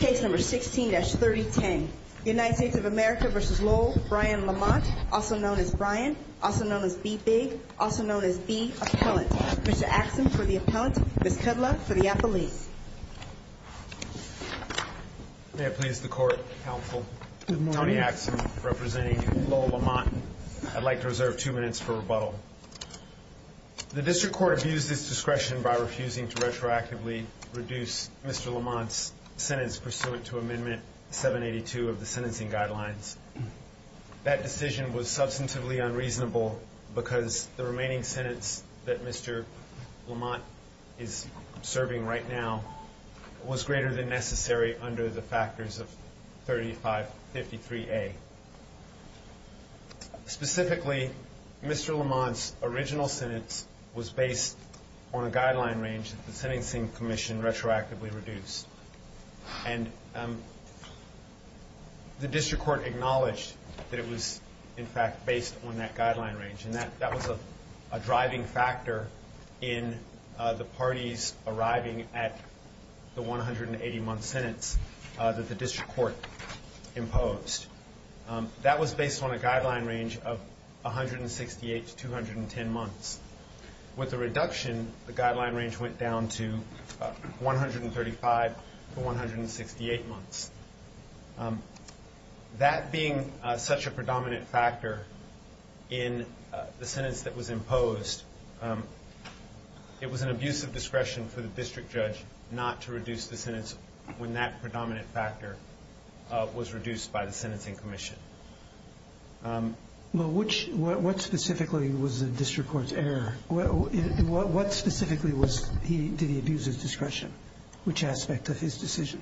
Case number 16-3010 United States of America v. Lowell Brian Lamont also known as Brian, also known as B-Big, also known as B-Appellant Mr. Axon for the Appellant, Ms. Kudlow for the Appellant May it please the Court, Counsel Tony Axon representing Lowell Lamont I'd like to reserve two minutes for rebuttal The District Court abused its discretion by refusing to retroactively reduce Mr. Lamont's sentence pursuant to Amendment 782 of the Sentencing Guidelines That decision was substantively unreasonable because the remaining sentence that Mr. Lamont is serving right now was greater than necessary under the factors of 3553A Specifically, Mr. Lamont's original sentence was based on a guideline range that the Sentencing Commission retroactively reduced And the District Court acknowledged that it was, in fact, based on that guideline range And that was a driving factor in the parties arriving at the 180-month sentence that the District Court imposed That was based on a guideline range of 168 to 210 months With the reduction, the guideline range went down to 135 to 168 months That being such a predominant factor in the sentence that was imposed it was an abuse of discretion for the District Judge not to reduce the sentence when that predominant factor was reduced by the Sentencing Commission Well, what specifically was the District Court's error? What specifically did he abuse his discretion? Which aspect of his decision?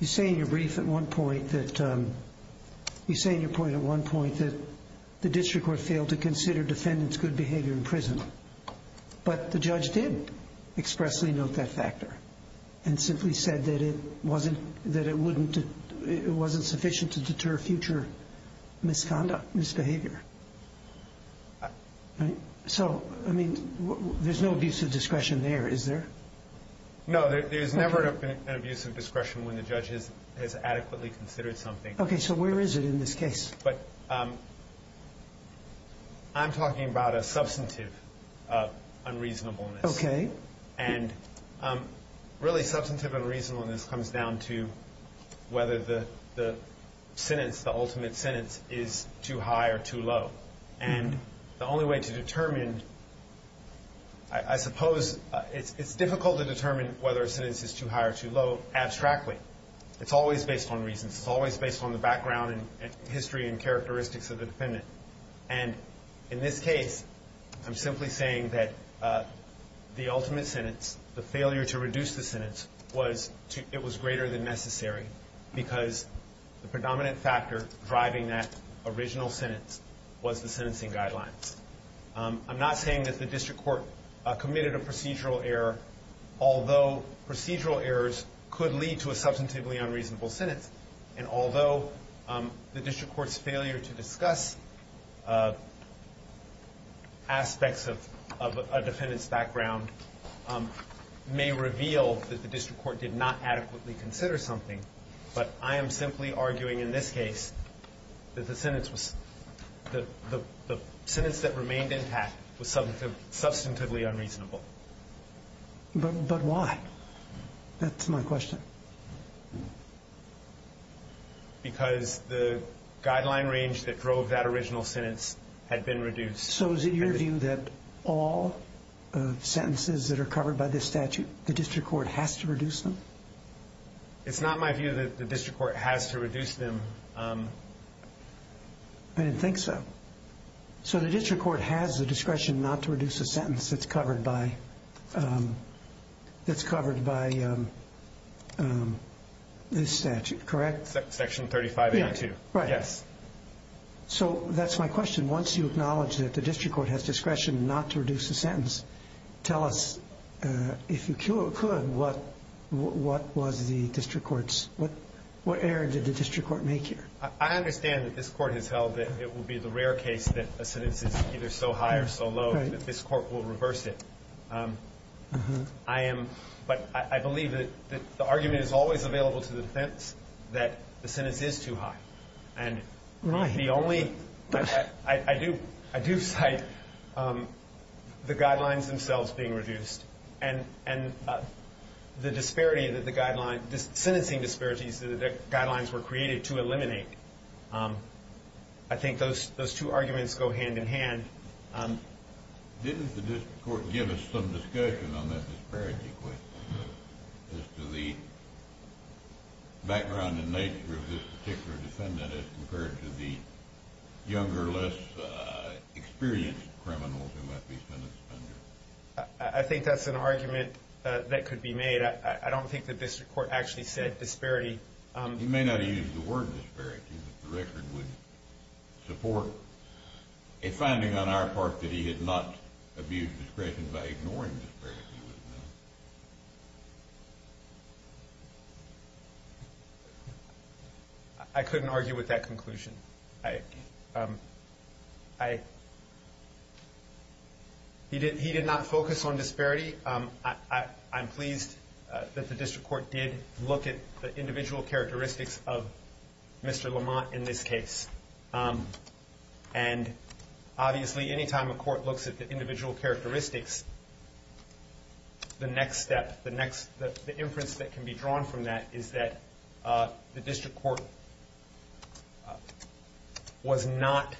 You say in your brief at one point that You say in your brief at one point that But the judge did expressly note that factor And simply said that it wasn't sufficient to deter future misconduct, misbehavior So, I mean, there's no abuse of discretion there, is there? No, there's never an abuse of discretion when the judge has adequately considered something Okay, so where is it in this case? But I'm talking about a substantive unreasonableness And really substantive unreasonableness comes down to whether the sentence, the ultimate sentence, is too high or too low And the only way to determine I suppose it's difficult to determine whether a sentence is too high or too low abstractly It's always based on reasons It's always based on the background and history and characteristics of the defendant And in this case, I'm simply saying that the ultimate sentence, the failure to reduce the sentence It was greater than necessary Because the predominant factor driving that original sentence was the sentencing guidelines I'm not saying that the District Court committed a procedural error Although procedural errors could lead to a substantively unreasonable sentence And although the District Court's failure to discuss aspects of a defendant's background may reveal that the District Court did not adequately consider something But I am simply arguing in this case that the sentence that remained intact was substantively unreasonable But why? That's my question Because the guideline range that drove that original sentence had been reduced So is it your view that all sentences that are covered by this statute the District Court has to reduce them? It's not my view that the District Court has to reduce them I didn't think so So the District Court has the discretion not to reduce a sentence that's covered by that's covered by this statute, correct? Section 3582 So that's my question Once you acknowledge that the District Court has discretion not to reduce a sentence tell us, if you could, what was the District Court's What error did the District Court make here? I understand that this Court has held that it would be the rare case that a sentence is either so high or so low that this Court will reverse it But I believe that the argument is always available to the defense that the sentence is too high And the only I do cite the guidelines themselves being reduced And the disparity, the sentencing disparities, the guidelines were created to eliminate I think those two arguments go hand in hand Didn't the District Court give us some discussion on that disparity question as to the background and nature of this particular defendant as compared to the younger, less experienced criminals who might be sentenced under? I think that's an argument that could be made I don't think the District Court actually said disparity You may not have used the word disparity, but the record would support a finding on our part that he had not abused discretion by ignoring disparity I couldn't argue with that conclusion I I He did not focus on disparity I'm pleased that the District Court did look at the individual characteristics of Mr. Lamont in this case And obviously, any time a court looks at the individual characteristics the next step, the inference that can be drawn from that is that the District Court was not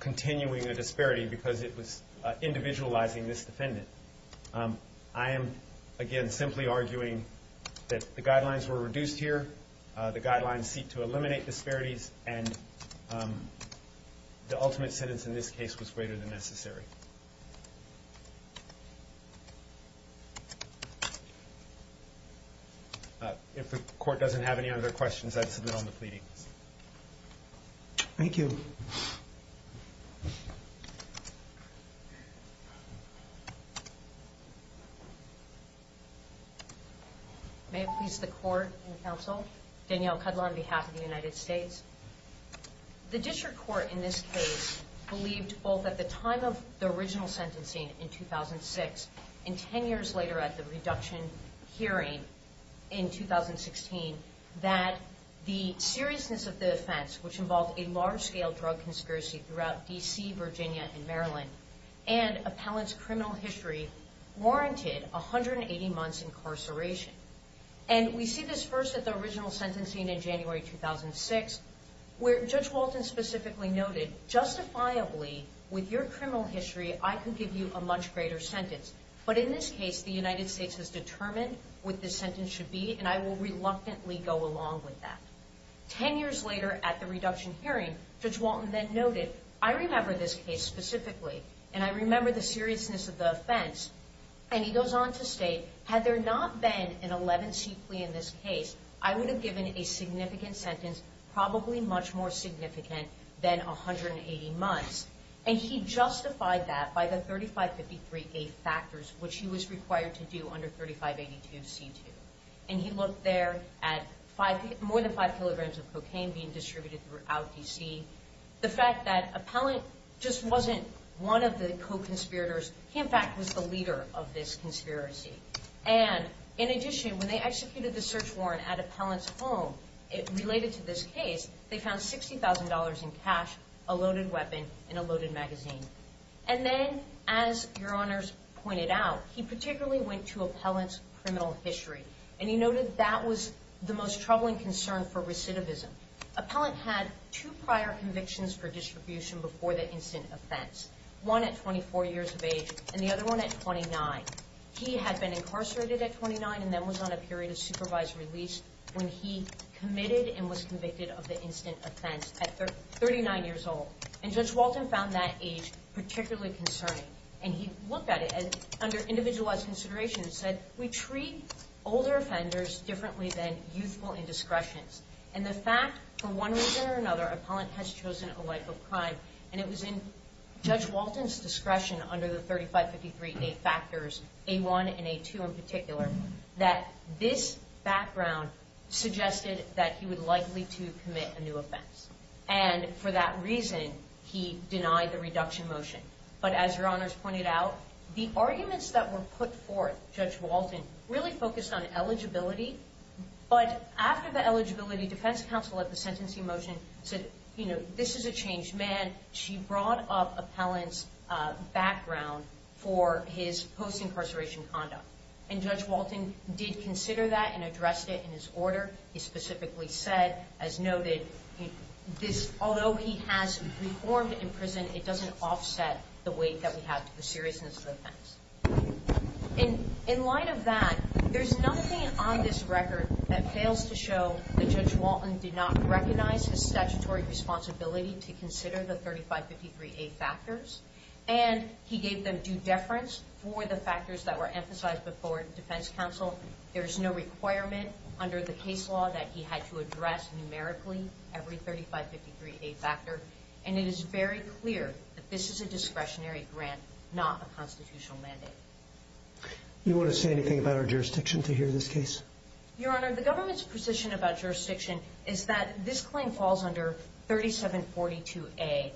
continuing the disparity because it was individualizing this defendant I am, again, simply arguing that the guidelines were reduced here The guidelines seek to eliminate disparities And the ultimate sentence in this case was greater than necessary If the court doesn't have any other questions, I submit on the pleading Thank you May it please the court and counsel, Danielle Cudlow on behalf of the United States The District Court in this case believed both at the time of the recording of the original sentencing in 2006 and 10 years later at the reduction hearing in 2016 that the seriousness of the offense, which involved a large-scale drug conspiracy throughout D.C., Virginia, and Maryland and appellant's criminal history warranted 180 months incarceration And we see this first at the original sentencing in January 2006 where Judge Walton specifically noted Justifiably, with your criminal history, I could give you a much greater sentence But in this case, the United States has determined what this sentence should be and I will reluctantly go along with that Ten years later at the reduction hearing, Judge Walton then noted I remember this case specifically, and I remember the seriousness of the offense And he goes on to state Had there not been an 11C plea in this case I would have given a significant sentence probably much more significant than 180 months And he justified that by the 3553A factors which he was required to do under 3582C2 And he looked there at more than five kilograms of cocaine being distributed throughout D.C. The fact that appellant just wasn't one of the co-conspirators He, in fact, was the leader of this conspiracy And, in addition, when they executed the search warrant at appellant's home Related to this case, they found $60,000 in cash, a loaded weapon, and a loaded magazine And then, as your honors pointed out He particularly went to appellant's criminal history And he noted that was the most troubling concern for recidivism Appellant had two prior convictions for distribution before the instant offense One at 24 years of age, and the other one at 29 He had been incarcerated at 29 and then was on a period of supervised release When he committed and was convicted of the instant offense at 39 years old And Judge Walton found that age particularly concerning And he looked at it under individualized consideration And said, we treat older offenders differently than youthful indiscretions And the fact, for one reason or another, appellant has chosen a life of crime And it was in Judge Walton's discretion under the 3553A factors A1 and A2 in particular That this background suggested that he would likely to commit a new offense And for that reason, he denied the reduction motion But as your honors pointed out The arguments that were put forth, Judge Walton really focused on eligibility But after the eligibility, defense counsel at the sentencing motion said You know, this is a changed man She brought up appellant's background for his post-incarceration conduct And Judge Walton did consider that and addressed it in his order He specifically said, as noted, although he has reformed in prison It doesn't offset the weight that we have to the seriousness of the offense In light of that, there's nothing on this record that fails to show That Judge Walton did not recognize his statutory responsibility To consider the 3553A factors And he gave them due deference for the factors that were emphasized before defense counsel There's no requirement under the case law that he had to address numerically Every 3553A factor And it is very clear that this is a discretionary grant Not a constitutional mandate You want to say anything about our jurisdiction to hear this case? Your honor, the government's position about jurisdiction Is that this claim falls under 3742A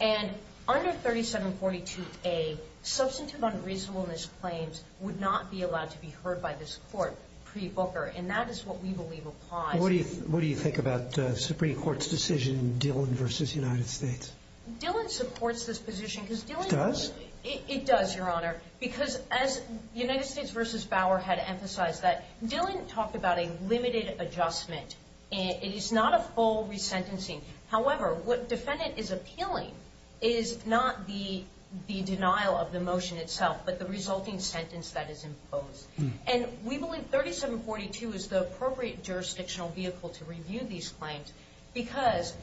And under 3742A, substantive unreasonableness claims Would not be allowed to be heard by this court pre-Booker And that is what we believe applies What do you think about the Supreme Court's decision, Dillon v. United States? Dillon supports this position It does? It does, your honor Because as United States v. Bauer had emphasized That Dillon talked about a limited adjustment It is not a full resentencing However, what defendant is appealing Is not the denial of the motion itself But the resulting sentence that is imposed And we believe 3742 is the appropriate jurisdictional vehicle to review these claims Because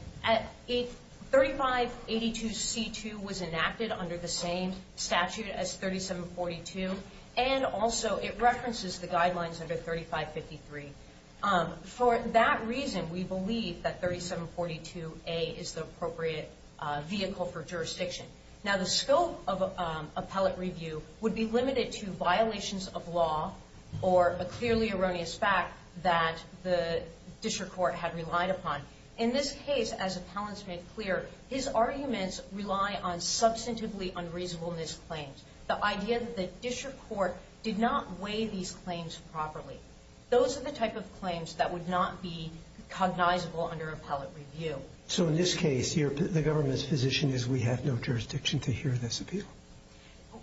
3582C2 was enacted under the same statute as 3742 And also it references the guidelines under 3553 For that reason, we believe that 3742A is the appropriate vehicle for jurisdiction Now the scope of appellate review would be limited to violations of law Or a clearly erroneous fact that the district court had relied upon In this case, as appellants made clear His arguments rely on substantively unreasonableness claims The idea that the district court did not weigh these claims properly Those are the type of claims that would not be cognizable under appellate review So in this case, the government's position is we have no jurisdiction to hear this appeal?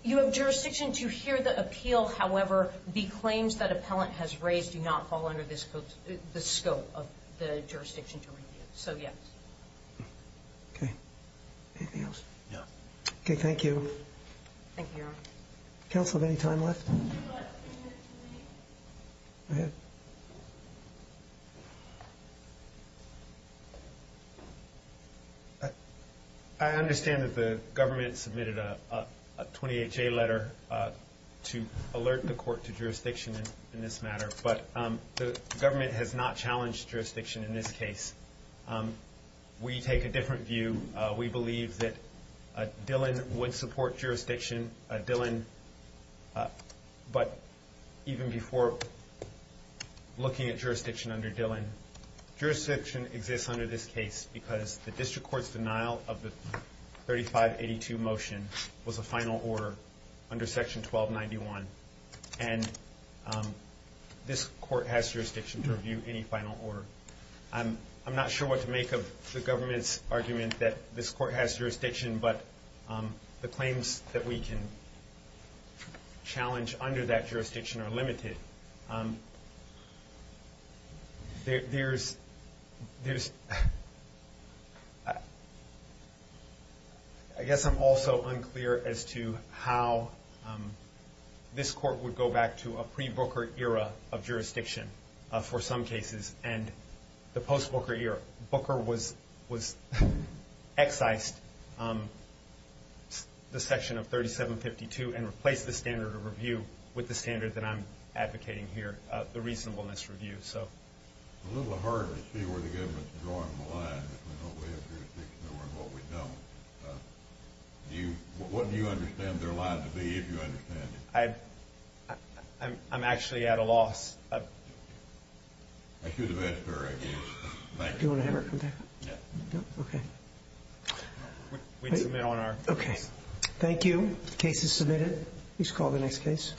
You have jurisdiction to hear the appeal However, the claims that appellant has raised Do not fall under the scope of the jurisdiction to review So, yes Okay Anything else? No Okay, thank you Thank you, your honor Counsel have any time left? Go ahead I understand that the government submitted a 28-J letter To alert the court to jurisdiction in this matter But the government has not challenged jurisdiction in this case We take a different view We believe that Dillon would support jurisdiction But even before looking at jurisdiction under Dillon Jurisdiction exists under this case Because the district court's denial of the 3582 motion Was a final order under section 1291 And this court has jurisdiction to review any final order I'm not sure what to make of the government's argument That this court has jurisdiction But the claims that we can challenge under that jurisdiction are limited There's I guess I'm also unclear as to how This court would go back to a pre-Booker era of jurisdiction For some cases And the post-Booker era Was excised The section of 3752 And replaced the standard of review With the standard that I'm advocating here The reasonableness review It's a little harder to see where the government's drawing the line Between what we have jurisdiction over and what we don't What do you understand their line to be if you understand it? I'm actually at a loss That's your defense jury Do you want to have her come back? No? Okay We'd submit on our case Thank you Case is submitted Please call the next case